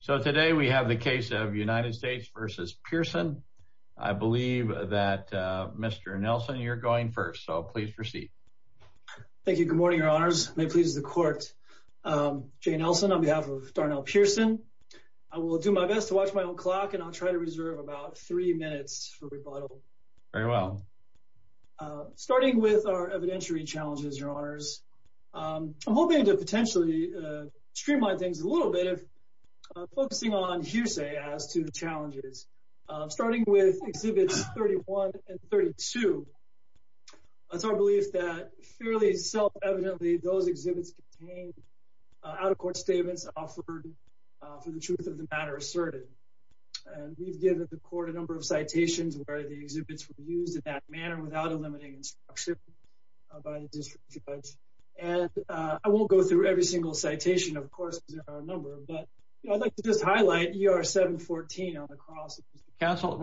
So today we have the case of United States v. Pearson. I believe that Mr. Nelson, you're going first, so please proceed. Thank you. Good morning, your honors. May it please the court. Jay Nelson on behalf of Darnell Pearson. I will do my best to watch my own clock and I'll try to reserve about three minutes for rebuttal. Very well. Starting with our evidentiary challenges, your honors. I'm hoping to potentially streamline things a little bit of focusing on hearsay as to the challenges, starting with exhibits 31 and 32. It's our belief that fairly self-evidently those exhibits contained out-of-court statements offered for the truth of the matter asserted. We've given the court a number of citations where the exhibits were used in that by the district judge. And I won't go through every single citation, of course, because there are a number. But I'd like to just highlight ER 714 on the cross. Counsel,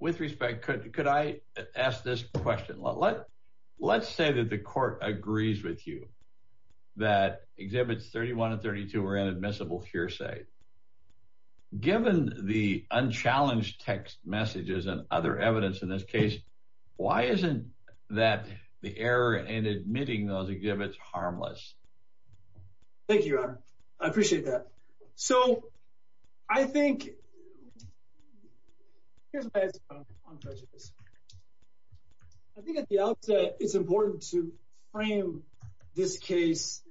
with respect, could I ask this question? Let's say that the court agrees with you that exhibits 31 and 32 are inadmissible hearsay. Given the error in admitting those exhibits harmless. Thank you, your honor. I appreciate that. So I think here's my answer on prejudice. I think at the outset it's important to frame this case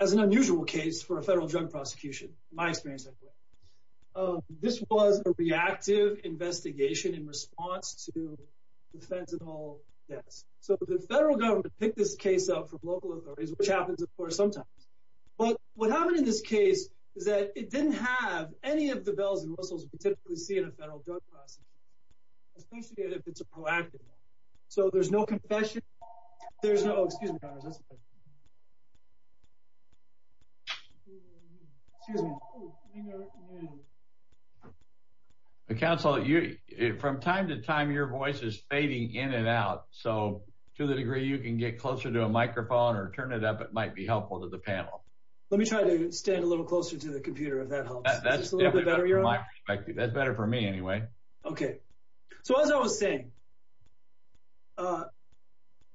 as an unusual case for a federal drug prosecution, my experience. This was a reactive investigation in response to defense at all deaths. So the federal government picked this case up from local authorities, which happens, of course, sometimes. But what happened in this case is that it didn't have any of the bells and whistles we typically see in a federal drug prosecution, especially if it's a proactive one. So there's no confession. There's no, excuse me, your honor, that's fine. Excuse me. Counsel, from time to time, your voice is fading in and out. So to the degree you can get closer to a microphone or turn it up, it might be helpful to the panel. Let me try to stand a little closer to the computer, if that helps. Is this a little bit better, your honor? That's better for me anyway. Okay. So as I was saying, a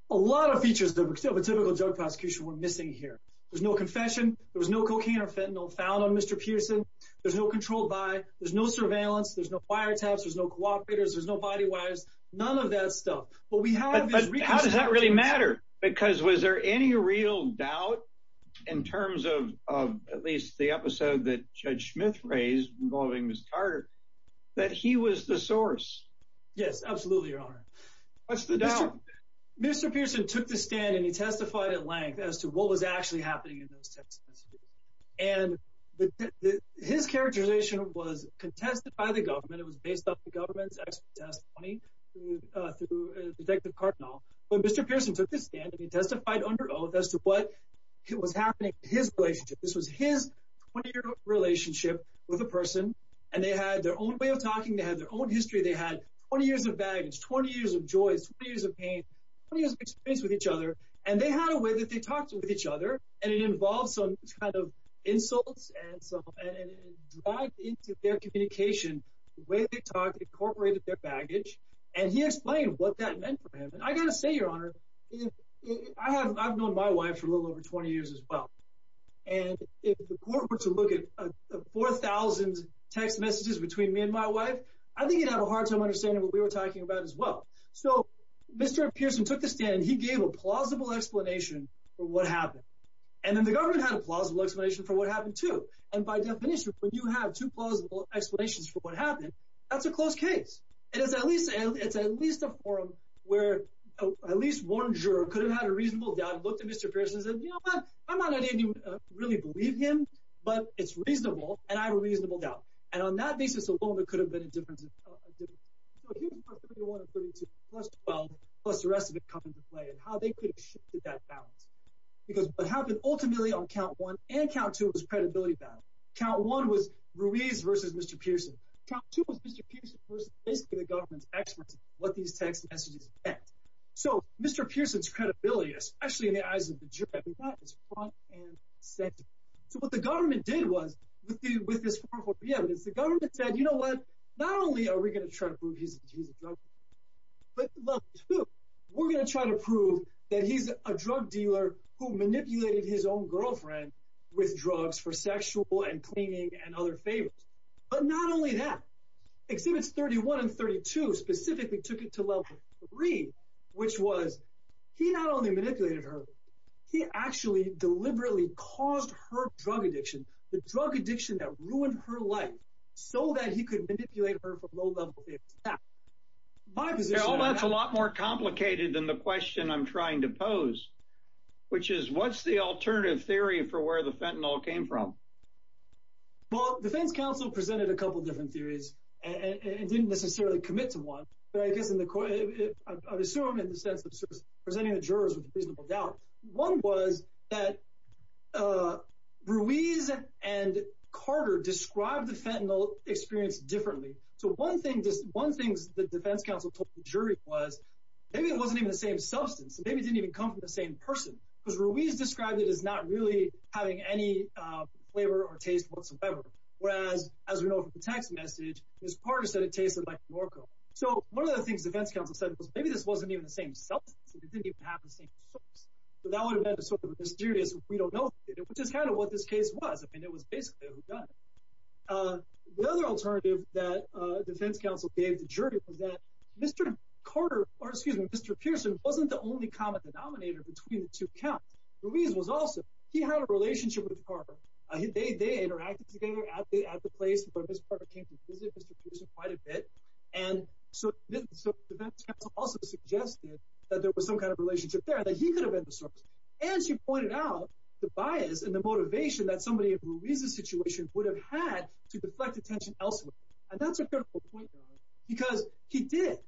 lot of features of a typical drug prosecution were missing here. There's no confession. There was no cocaine or fentanyl found on Mr. Pearson. There's no control by, there's no surveillance, there's no wiretaps, there's no cooperators, there's no body wires, none of that stuff. But we have- But how does that really matter? Because was there any real doubt in terms of at least the episode that Judge Smith raised involving Ms. Carter, that he was the source? Yes, absolutely, your honor. What's the doubt? Mr. Pearson took the stand and he testified at length as to what was actually happening in those tests. And his characterization was contested by the government. It was based on the government's expert testimony through Detective Cardinal. But Mr. Pearson took the stand and he testified under oath as to what was happening in his relationship. This was his 20-year relationship with a person. And they had their own way of talking. They had their own history. They had 20 years of baggage, 20 years of joys, 20 years of pain, 20 years of experience with each other. And they had a way that they talked with each other. And it involved some kind of insults and some, and it dragged into their communication the way they talked, incorporated their baggage. And he explained what that meant for him. And I got to say, your honor, I have, I've known my wife for a little over 20 years as well. And if the court were to look at 4,000 text messages between me and my wife, I think you'd have a hard time understanding what we were talking about as well. So Mr. Pearson took the stand and he gave a plausible explanation for what happened. And then the government had a plausible explanation for what happened too. And by definition, when you have two plausible explanations for what happened, that's a close case. It is at least, it's at least a forum where at least one juror could have had a reasonable doubt and looked at Mr. Pearson and said, you know what, I'm not at any, really believe him, but it's reasonable. And I have a reasonable doubt. And on that basis alone, it could have been a difference. Plus the rest of it comes into play and how they could have shifted that balance because what happened ultimately on count one and count two was credibility battle. Count one was Ruiz versus Mr. Pearson. Count two was Mr. Pearson versus basically the government's what these text messages meant. So Mr. Pearson's credibility, especially in the eyes of the jury, so what the government did was with the, with this, the government said, you know what, not only are we going to try to prove he's a drug dealer, but we're going to try to prove that he's a drug dealer who manipulated his own girlfriend with drugs for sexual and cleaning and other things. And count two specifically took it to level three, which was, he not only manipulated her, he actually deliberately caused her drug addiction, the drug addiction that ruined her life so that he could manipulate her for low level. My position. Well, that's a lot more complicated than the question I'm trying to pose, which is what's the alternative theory for where the fentanyl came from? Well, defense counsel presented a couple of different theories and didn't necessarily commit to one, but I guess in the court, I assume in the sense of presenting the jurors with a reasonable doubt, one was that Ruiz and Carter described the fentanyl experience differently. So one thing, just one thing the defense counsel told the jury was maybe it wasn't even the same substance. Maybe it didn't even come from the same person because Ruiz described it as not really having any flavor or taste whatsoever. Whereas as we know from the text message, Ms. Carter said it tasted like Norco. So one of the things the defense counsel said was maybe this wasn't even the same substance. It didn't even have the same source. So that would have been a sort of mysterious, we don't know, which is kind of what this case was. I mean, it was basically a gun. The other alternative that defense counsel gave the jury was that Mr. Carter or excuse me, Mr. Pearson wasn't the only common denominator between the two counts. Ruiz was also, he had a relationship with Carter. They interacted together at the place, but Ms. Carter came to visit Mr. Pearson quite a bit. And so the defense counsel also suggested that there was some kind of relationship there, that he could have been the source. And she pointed out the bias and the motivation that somebody in Ruiz's situation would have had to deflect attention elsewhere. And that's a critical point, because he did it.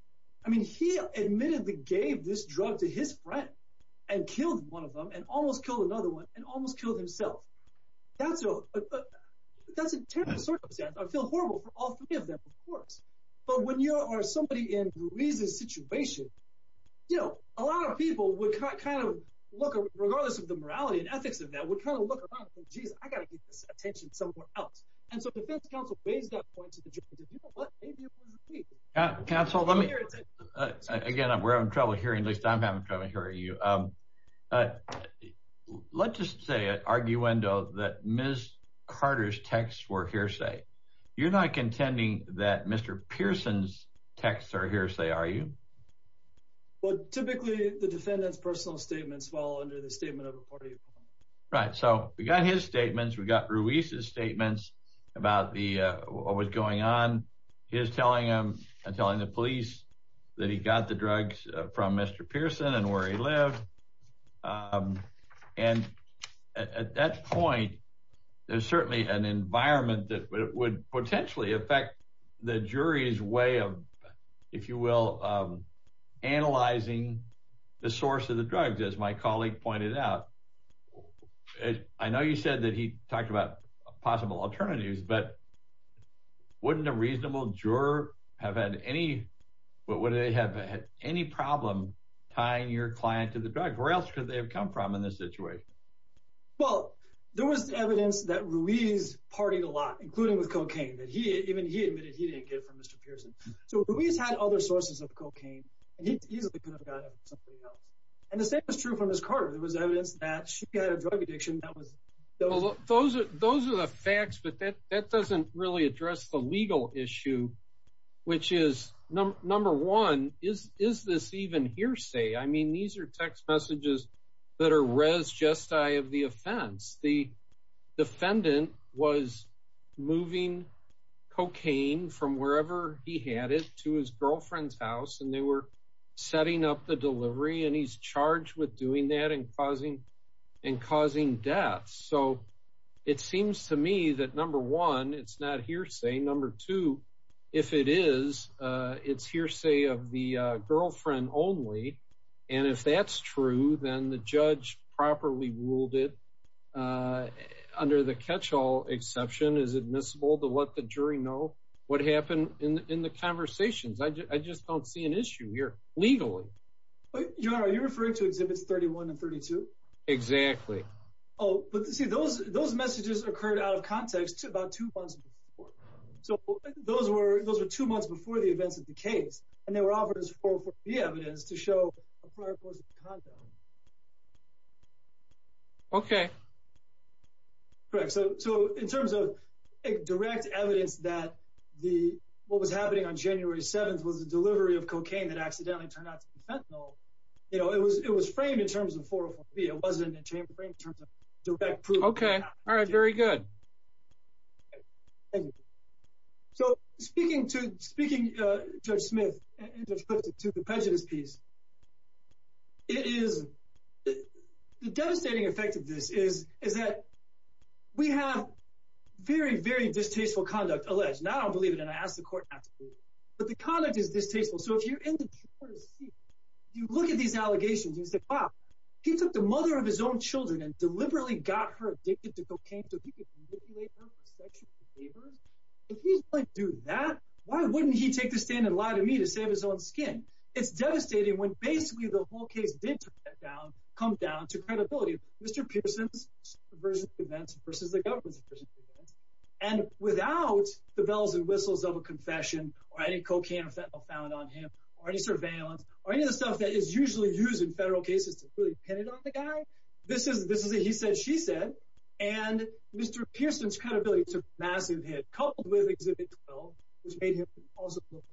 I mean, he admittedly gave this drug to his friend and killed one of them and almost killed another one and almost killed himself. That's a terrible circumstance. I feel horrible for all three of them, of course. But when you are somebody in Ruiz's situation, you know, a lot of people would kind of look, regardless of the morality and ethics of that, would kind of look around and think, geez, I got to get this attention somewhere else. And so defense counsel based on points of the jury, did you know what maybe it was Ruiz? Counsel, let me, again, we're having trouble hearing, at least I'm having trouble hearing you. Let's just say an arguendo that Ms. Carter's texts were hearsay. You're not contending that Mr. Pearson's texts are hearsay, are you? Well, typically the defendant's personal statements fall under the statement of a party. Right. So we got his statements. We got Ruiz's what was going on, his telling him and telling the police that he got the drugs from Mr. Pearson and where he lived. And at that point, there's certainly an environment that would potentially affect the jury's way of, if you will, analyzing the source of the drugs, as my colleague pointed out. I know you said that he talked about possible alternatives, but wouldn't a reasonable juror have had any, would they have had any problem tying your client to the drug? Where else could they have come from in this situation? Well, there was evidence that Ruiz partied a lot, including with cocaine, that even he admitted he didn't get from Mr. Pearson. So Ruiz had other sources of cocaine, and he easily could have gotten it from somebody else. And the same was true for Ms. Carter. There was evidence that she had a drug addiction. Those are the facts, but that doesn't really address the legal issue, which is, number one, is this even hearsay? I mean, these are text messages that are res gestae of the offense. The defendant was moving cocaine from wherever he had it to his girlfriend's house, and they were setting up the delivery, and he's charged with doing that and causing death. So it seems to me that, number one, it's not hearsay. Number two, if it is, it's hearsay of the girlfriend only. And if that's true, then the judge properly ruled it, under the catch-all exception, is admissible to let the jury know what happened in the conversations. I just don't see an issue here, legally. John, are you referring to Exhibits 31 and 32? Exactly. Oh, but see, those messages occurred out of context about two months before. So those were two months before the events of the case, and they were offered as 404B evidence to show a prior post-contact. Okay. Correct. So in terms of direct evidence that what was happening on January 7th was the delivery of cocaine that accidentally turned out to be fentanyl, it was framed in terms of 404B. It wasn't framed in terms of direct proof. Okay. All right. Very good. So speaking to Judge Smith and Judge Clifton to the prejudice piece, the devastating effect of this is that we have very, very distasteful conduct alleged. And I want to see, if you look at these allegations, you say, wow, he took the mother of his own children and deliberately got her addicted to cocaine so he could manipulate her for sexual behaviors. If he's going to do that, why wouldn't he take the stand and lie to me to save his own skin? It's devastating when basically the whole case did come down to credibility. Mr. Pearson's version of events versus the government's version of events. And without the bells and whistles of confession or any cocaine or fentanyl found on him or any surveillance or any of the stuff that is usually used in federal cases to really pin it on the guy, this is a he said, she said. And Mr. Pearson's credibility took a massive hit, coupled with Exhibit 12, which made him an impossible guy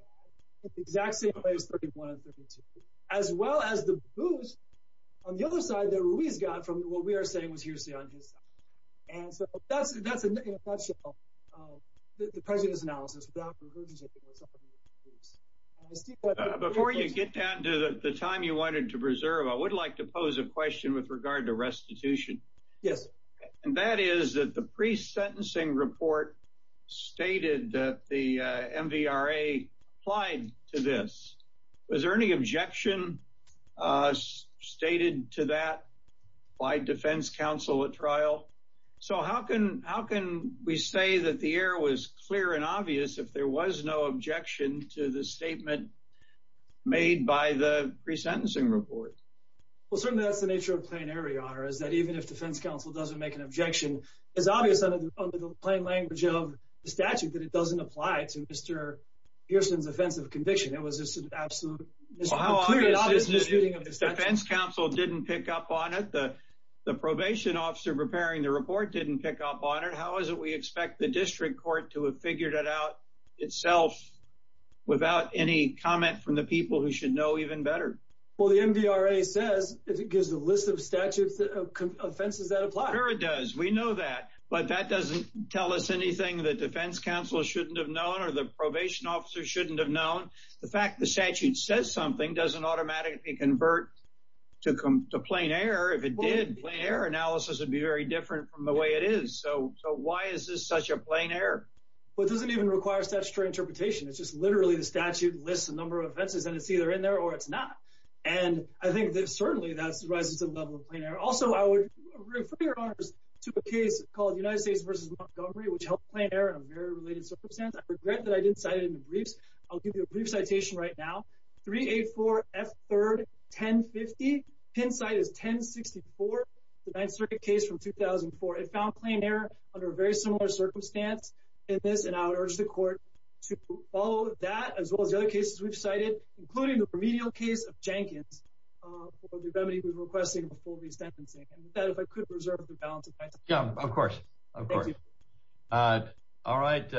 in the exact same way as 31 and 32, as well as the boost on the other side that Ruiz got from what we are saying was hearsay on his side. And so that's, in a nutshell, the president's analysis. Before you get down to the time you wanted to preserve, I would like to pose a question with regard to restitution. Yes. And that is that the pre sentencing report stated that the MVRA applied to this. Was there any objection stated to that by defense counsel at trial? So how can how can we say that the air was clear and obvious if there was no objection to the statement made by the resentencing report? Well, certainly that's the nature of plenary honor is that even if defense counsel doesn't make an objection, it's obvious under the plain language of the statute that it doesn't apply to Pearson's offense of conviction. It was just an absolute defense counsel didn't pick up on it. The probation officer preparing the report didn't pick up on it. How is it we expect the district court to have figured it out itself without any comment from the people who should know even better? Well, the MVRA says it gives a list of statutes of offenses that apply. Sure, it does. We know that. But that doesn't tell us anything that defense counsel shouldn't have known or the probation officer shouldn't have known. The fact the statute says something doesn't automatically convert to come to plain error. If it did, their analysis would be very different from the way it is. So why is this such a plain error? Well, it doesn't even require statutory interpretation. It's just literally the statute lists a number of offenses, and it's either in there or it's not. And I think that certainly that's rises to the level of plenary. Also, I would refer to a case called United States versus Montgomery, which helped plain error in a very related circumstance. I regret that I didn't cite it in the briefs. I'll give you a brief citation right now. 384 F3rd 1050. Pin site is 1064, the 9th Circuit case from 2004. It found plain error under a very similar circumstance in this, and I would urge the court to follow that, as well as the other cases we've cited, including the remedial case of Jenkins, who was requesting a full re-sentencing. And with that, if I could reserve the balance of my time. Yeah, of course. All right,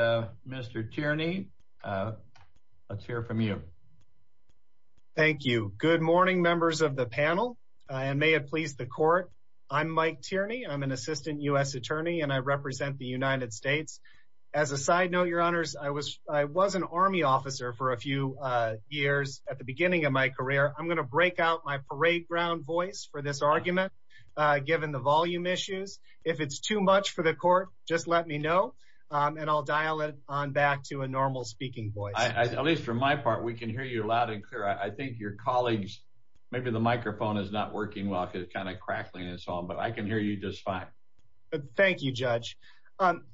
Mr. Tierney, let's hear from you. Thank you. Good morning, members of the panel, and may it please the court. I'm Mike Tierney. I'm an assistant U.S. attorney, and I represent the United States. As a side note, Your Honors, I was an Army officer for a few years at the beginning of my career. I'm going to break out my parade ground voice for this argument, given the volume issues. If it's too much for the court, just let me know, and I'll dial it on back to a normal speaking voice. At least for my part, we can hear you loud and clear. I think your colleagues, maybe the microphone is not working well because it's kind of crackling and so on, but I can hear you just fine. Thank you, Judge.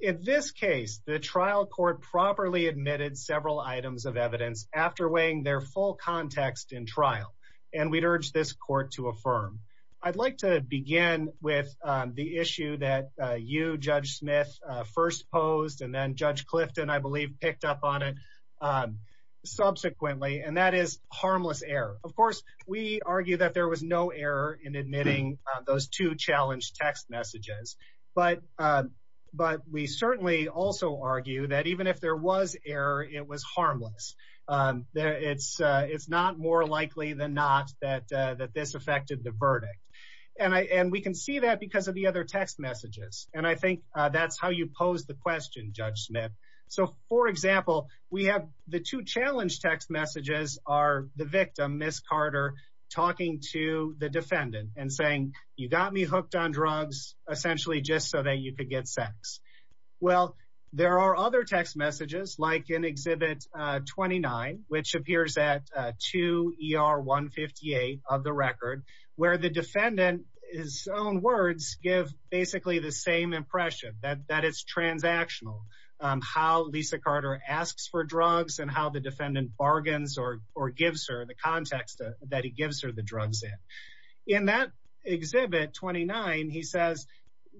In this case, the trial court properly admitted several items of evidence after weighing their full context in trial, and we'd urge this court to affirm. I'd like to begin with the issue that you, Judge Smith, first posed and then Judge Clifton, I believe, picked up on it subsequently, and that is harmless error. Of course, we argue that there was no error in admitting those two challenged text messages, but we certainly also argue that even if there was error, it was harmless. It's not more likely than not that this affected the verdict. We can see that because of the other text messages, and I think that's how you posed the question, Judge Smith. For example, the two challenged text messages are the victim, Ms. Carter, talking to the defendant and saying, you got me hooked on drugs, essentially just so that you could get sex. Well, there are other text messages like in Exhibit 29, which appears at 2 ER 158 of the record, where the defendant, his own words, give basically the same impression, that it's transactional, how Lisa Carter asks for drugs and how the defendant bargains or gives her the context that he gives her the drugs in. In that Exhibit 29, he says,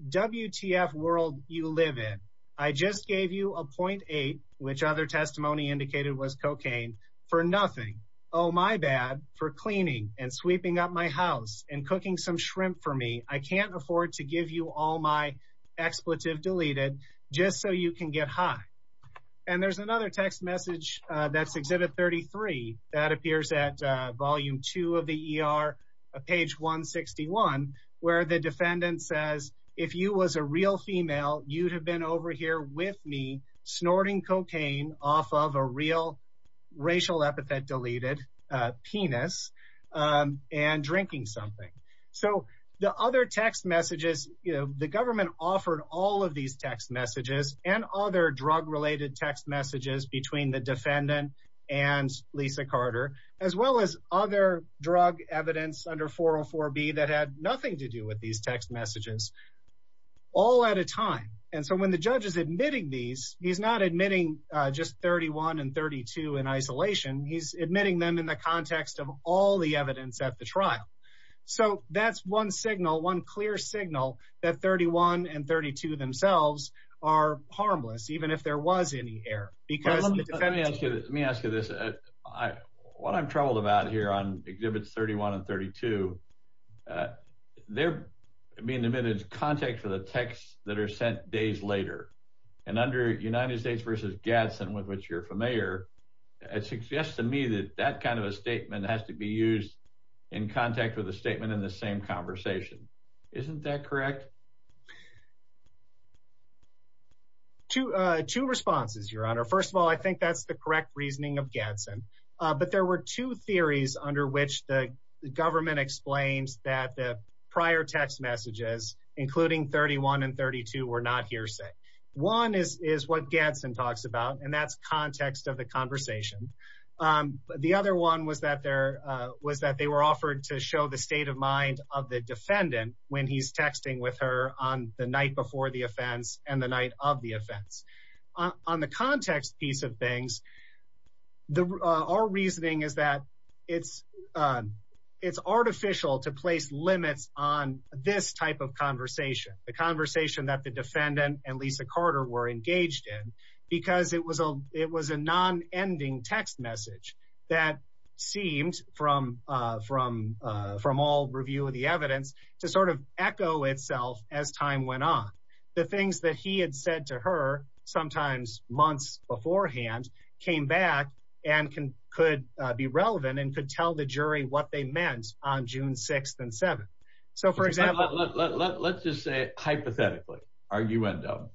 WTF world you live in. I just gave you a .8, which other testimony indicated was cocaine, for nothing. Oh, my bad for cleaning and sweeping up my house and cooking some shrimp for me. I can't afford to give you all my expletive deleted just so you can get high. And there's another text If you was a real female, you'd have been over here with me snorting cocaine off of a real racial epithet deleted penis and drinking something. So the other text messages, the government offered all of these text messages and other drug related text messages between the defendant and Lisa Carter, as well as other drug evidence under 404 B that had nothing to do with these text messages all at a time. And so when the judge is admitting these, he's not admitting just 31 and 32 in isolation. He's admitting them in the context of all the evidence at the trial. So that's one signal, one clear signal that 31 and 32 themselves are harmless, even if there was any error. Because let me ask you this. What I'm troubled about here on Exhibits 31 and 32, they're being admitted to contact for the texts that are sent days later. And under United States versus Gadsden, with which you're familiar, it suggests to me that that kind of a statement has to be used in contact with a statement in the same conversation. Isn't that correct? Two, two responses, Your Honor. First of all, I think that's the correct reasoning of Gadsden. But there were two theories under which the government explains that the prior text messages, including 31 and 32, were not hearsay. One is what Gadsden talks about, and that's context of the conversation. The other one was that they were offered to show the state of mind of the defendant when he's texting with her on the night before the offense and the night of the offense. On the context piece of things, our reasoning is that it's artificial to place limits on this type of conversation, the conversation that the defendant and Lisa Carter were engaged in, because it was a non-ending text message that seemed, from all review of the evidence, to sort of echo itself as time went on. The things that he had said to her, sometimes months beforehand, came back and could be relevant and could tell the jury what they meant on June 6th and 7th. So for example— Let's just say hypothetically, arguendo,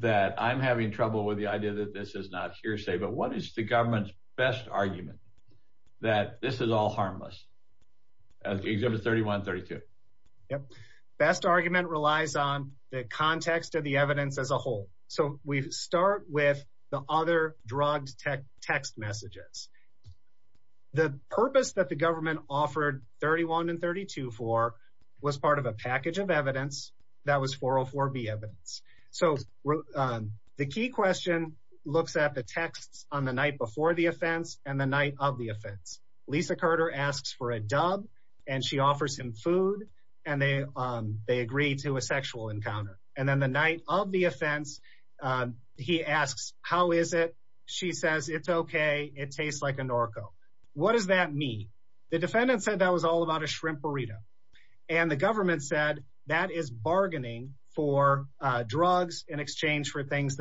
that I'm having trouble with the idea that this is not hearsay, but what is the government's argument that this is all harmless? Exhibit 31 and 32. Best argument relies on the context of the evidence as a whole. So we start with the other drugged text messages. The purpose that the government offered 31 and 32 for was part of a package of evidence that was 404B evidence. So the key question looks at the texts on the night before the offense and the night of the offense. Lisa Carter asks for a dub, and she offers him food, and they agree to a sexual encounter. And then the night of the offense, he asks, how is it? She says, it's okay, it tastes like a Norco. What does that mean? The defendant said that was all about a shrimp burrito. And the government said that is bargaining for drugs in the case.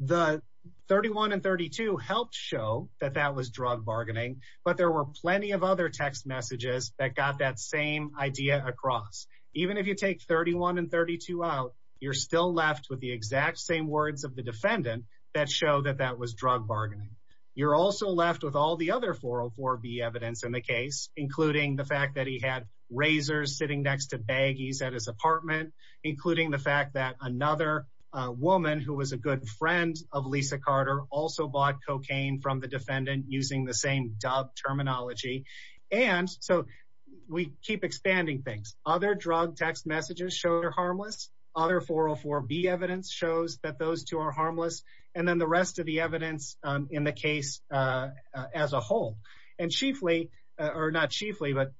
So 31 and 32 helped show that that was drug bargaining, but there were plenty of other text messages that got that same idea across. Even if you take 31 and 32 out, you're still left with the exact same words of the defendant that show that that was drug bargaining. You're also left with all the other 404B evidence in the case, including the fact that he had razors sitting next to baggies at his apartment, including the fact that another woman who was a good friend of Lisa Carter also bought cocaine from the defendant using the same dub terminology. And so we keep expanding things. Other drug text messages show they're harmless. Other 404B evidence shows that those two are harmless. And then the rest of the evidence in the case as a whole. And chiefly, or not chiefly, but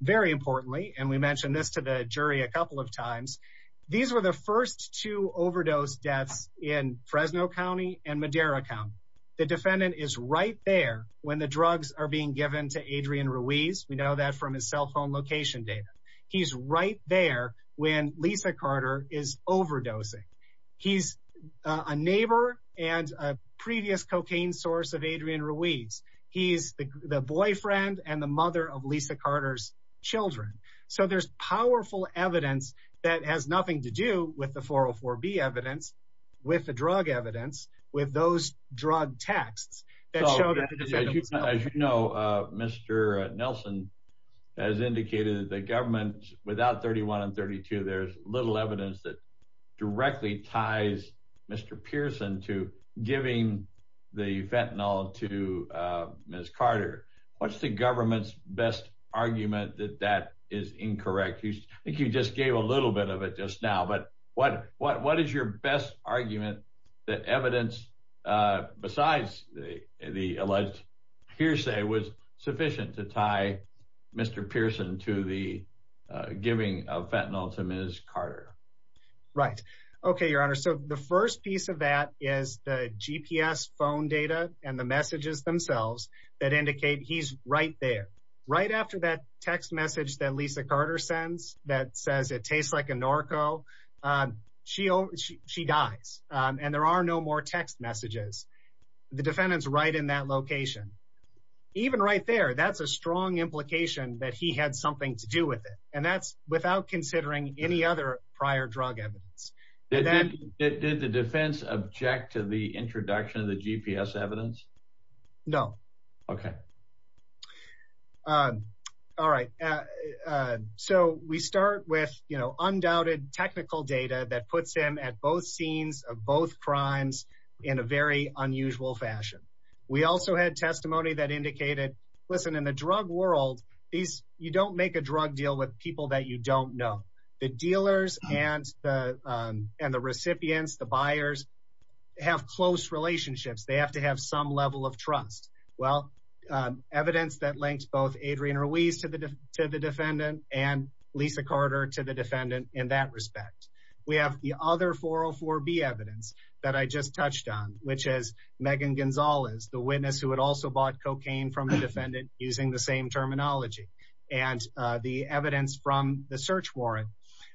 very importantly, and we mentioned this to the jury a couple of times, these were the first two overdose deaths in Fresno County and Madera County. The defendant is right there when the drugs are being given to Adrian Ruiz. We know that from his cell phone location data. He's right there when Lisa Carter is overdosing. He's a neighbor and a previous cocaine source of Adrian Ruiz. He's the boyfriend and the mother of Lisa Carter's children. So there's powerful evidence that has nothing to do with the 404B evidence, with the drug evidence, with those drug texts. As you know, Mr. Nelson has indicated that the government, without 31 and 32, there's little evidence that directly ties Mr. Pearson to giving the fentanyl to Ms. Carter. What's the government's best argument that that is incorrect? I think you just gave a little bit of it just now, but what is your best argument that evidence besides the alleged hearsay was sufficient to tie Mr. Pearson to the giving of fentanyl to Ms. Carter? Right. Okay, Your Honor. So the first piece of that is the GPS phone data and the messages themselves that indicate he's right there. Right after that text message that Lisa Carter sends that says it tastes like a narco, she dies and there are no more text messages. The defendant's right in that location. Even right there, that's a strong implication that he had something to do with it, and that's without considering any other prior drug evidence. Did the defense object to the introduction of the GPS evidence? No. Okay. All right. So we start with, you know, undoubted technical data that puts him at both scenes of both crimes in a very unusual fashion. We also had testimony that indicated, listen, in the drug world, you don't make a drug deal with people that you don't know. The dealers and the recipients, the buyers, have close relationships. They have to have some level of trust. Well, evidence that links both Adrian Ruiz to the defendant and Lisa Carter to the defendant in that respect. We have the other 404B evidence that I just touched on, which is Megan Gonzalez, the witness who had also bought cocaine from the defendant using the same terminology, and the evidence from the search warrant.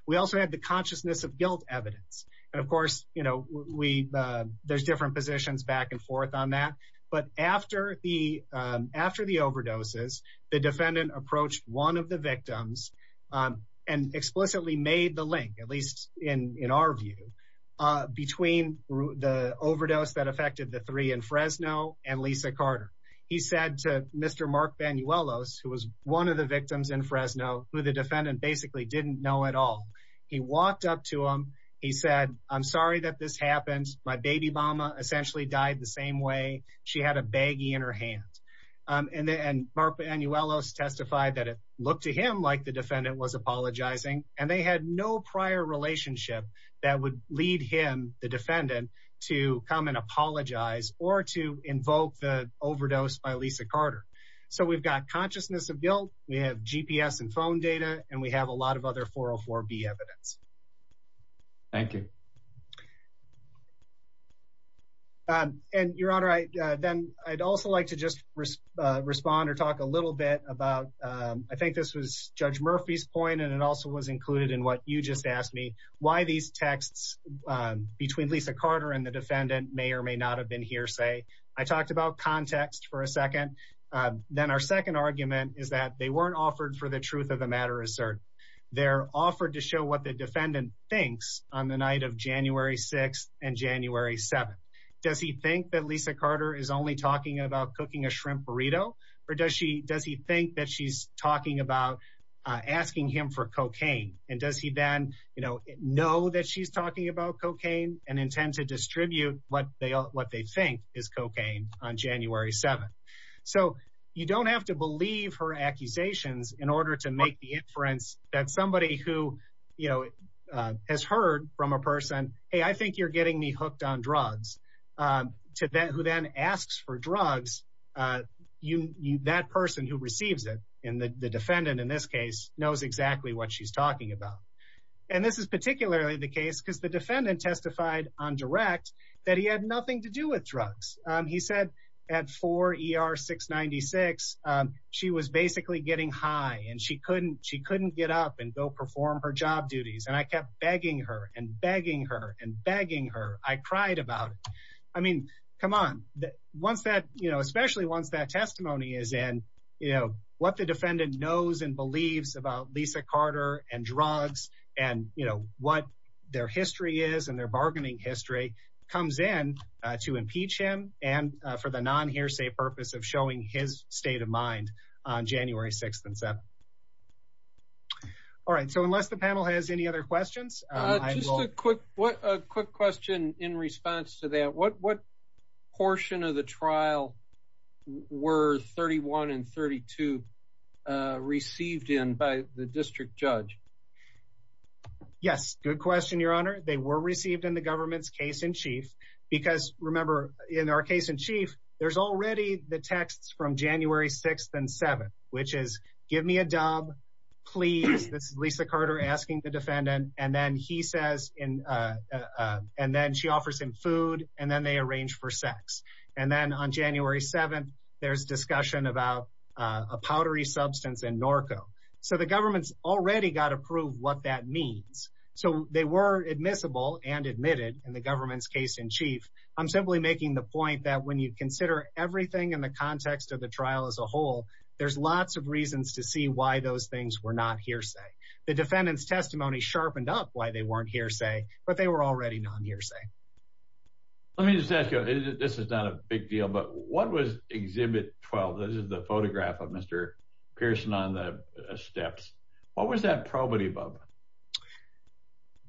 We also had the consciousness of guilt evidence. And of course, you know, there's different positions back and forth on that. But after the overdoses, the defendant approached one of the victims and explicitly made the link, at least in our view, between the overdose that affected the three in Fresno and Lisa Carter. He said to Mr. Mark Banuelos, who was one of the victims in Fresno, who the defendant basically didn't know at all. He walked up to him. He said, I'm sorry that this happened. My baby mama essentially died the same way. She had a baggie in her hand. And Mark Banuelos testified that it looked to him like the defendant was apologizing. And they had no prior relationship that would lead him, the defendant, to come and apologize or to invoke the overdose by Lisa Carter. So we've got consciousness of guilt. We have GPS and phone data. And we have a lot of other 404B evidence. Thank you. And Your Honor, then I'd also like to just respond or talk a little bit about, I think this was Judge Murphy's point, and it also was included in what you just asked me, why these texts between Lisa Carter and the defendant may or may not have been hearsay. I talked about context for a second. Then our second argument is that they weren't offered for the truth of the matter asserted. They're offered to show what the defendant thinks on the night of January 6th and January 7th. Does he think that Lisa Carter is only talking about asking him for cocaine? And does he then know that she's talking about cocaine and intend to distribute what they think is cocaine on January 7th? So you don't have to believe her accusations in order to make the inference that somebody who has heard from a person, hey, I think you're the defendant in this case, knows exactly what she's talking about. And this is particularly the case because the defendant testified on direct that he had nothing to do with drugs. He said at 4 ER 696, she was basically getting high and she couldn't get up and go perform her job duties. And I kept begging her and begging her and begging her. I cried about it. I mean, come on. Once that, you know, especially once that testimony is in, you know, what the defendant knows and believes about Lisa Carter and drugs and, you know, what their history is and their bargaining history comes in to impeach him and for the non hearsay purpose of showing his state of mind on January 6th and 7th. All right. So unless the panel has any other questions. Just a quick, quick question in response to that. What portion of the trial were 31 and 32 received in by the district judge? Yes. Good question, Your Honor. They were received in the government's case in chief because remember in our case in chief, there's already the texts from January 6th and 7th, which is give me a job, please. This is Lisa Carter asking the he says, and then she offers him food and then they arrange for sex. And then on January 7th, there's discussion about a powdery substance and Norco. So the government's already got approved what that means. So they were admissible and admitted in the government's case in chief. I'm simply making the point that when you consider everything in the context of the trial as a whole, there's lots of reasons to see why those things were not hearsay. The defendant's testimony sharpened up why they weren't hearsay, but they were already non-hearsay. Let me just ask you, this is not a big deal, but what was exhibit 12? This is the photograph of Mr. Pearson on the steps. What was that probity above?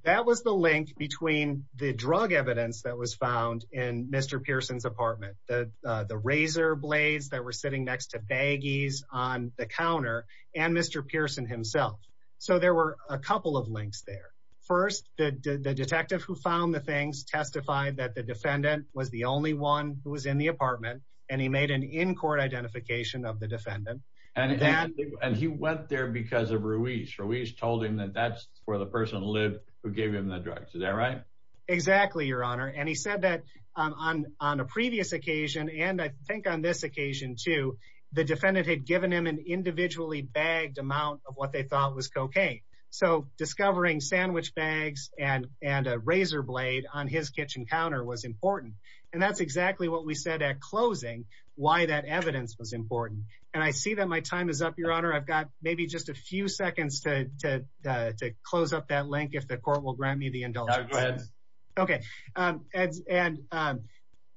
That was the link between the drug evidence that was found in Mr. Pearson's apartment, the razor blades that were sitting next to baggies on the counter and Mr. Pearson himself. So there were a couple of links there. First, the detective who found the things testified that the defendant was the only one who was in the apartment and he made an in-court identification of the defendant. And he went there because of Ruiz. Ruiz told him that that's where the person lived who gave him the drugs. Is that right? Exactly, your honor. And he said that on a previous occasion and I think on this occasion too, the defendant had given him individually bagged amount of what they thought was cocaine. So discovering sandwich bags and a razor blade on his kitchen counter was important. And that's exactly what we said at closing, why that evidence was important. And I see that my time is up, your honor. I've got maybe just a few seconds to close up that link if the court will grant me the indulgence. Okay. And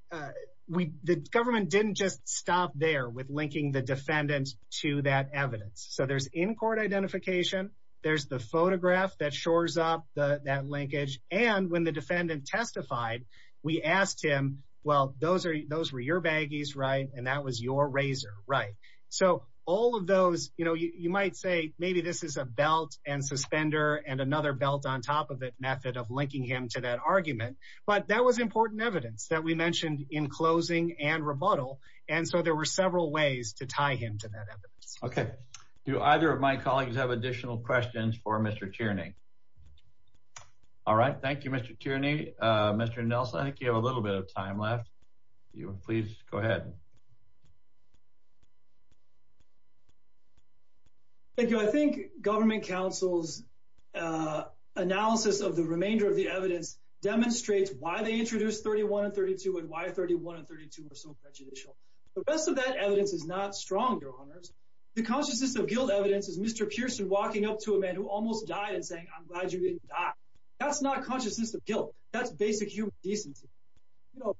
the government didn't just stop there with linking the defendant to that evidence. So there's in-court identification. There's the photograph that shores up that linkage. And when the defendant testified, we asked him, well, those were your baggies, right? And that was your razor, right? So all of those, you might say maybe this is a belt and suspender and another belt on top of it method of linking him to that argument. But that was important evidence that we mentioned in closing and rebuttal. And so there were several ways to tie him to that evidence. Okay. Do either of my colleagues have additional questions for Mr. Tierney? All right. Thank you, Mr. Tierney. Mr. Nelson, I think you have a little bit of time left. You please go ahead. Thank you. I think government counsel's analysis of the remainder of the evidence demonstrates why they introduced 31 and 32 and why 31 and 32 are so prejudicial. The rest of that evidence is not strong, Your Honors. The consciousness of guilt evidence is Mr. Pearson walking up to a man who almost died and saying, I'm glad you didn't die. That's not consciousness of guilt. That's basic human decency. You know,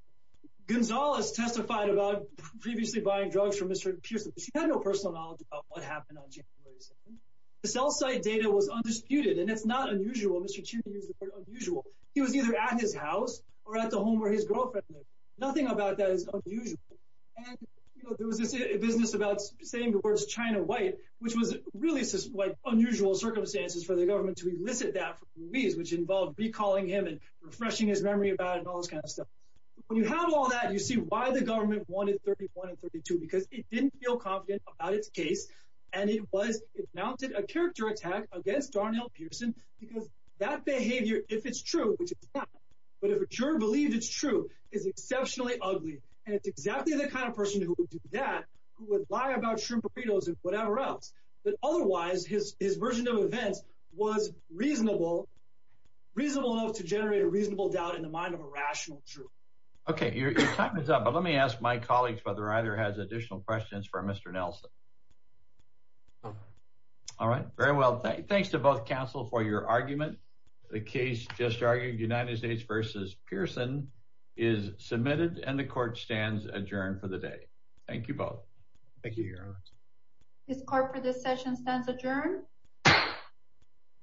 Gonzalez testified about previously buying drugs from Mr. Pearson. She had no personal knowledge about what happened on January 2nd. The cell site data was undisputed. And it's not unusual. Mr. Tierney used the word either at his house or at the home where his girlfriend lived. Nothing about that is unusual. And, you know, there was this business about saying the words China white, which was really like unusual circumstances for the government to elicit that from Ruiz, which involved recalling him and refreshing his memory about it and all this kind of stuff. When you have all that, you see why the government wanted 31 and 32, because it didn't feel confident about its case. And it was, it mounted a character attack against Darnell Pearson, because that behavior, if it's true, which it's not, but if a juror believed it's true, is exceptionally ugly. And it's exactly the kind of person who would do that, who would lie about shrimp burritos and whatever else. But otherwise, his version of events was reasonable, reasonable enough to generate a reasonable doubt in the mind of a rational juror. Okay, your time is up. But let me ask my colleagues whether either has additional questions for Mr. Nelson. All right, very well. Thanks to both counsel for your argument. The case just argued United States versus Pearson is submitted and the court stands adjourned for the day. Thank you both. Thank you, Your Honor. This court for this session stands adjourned.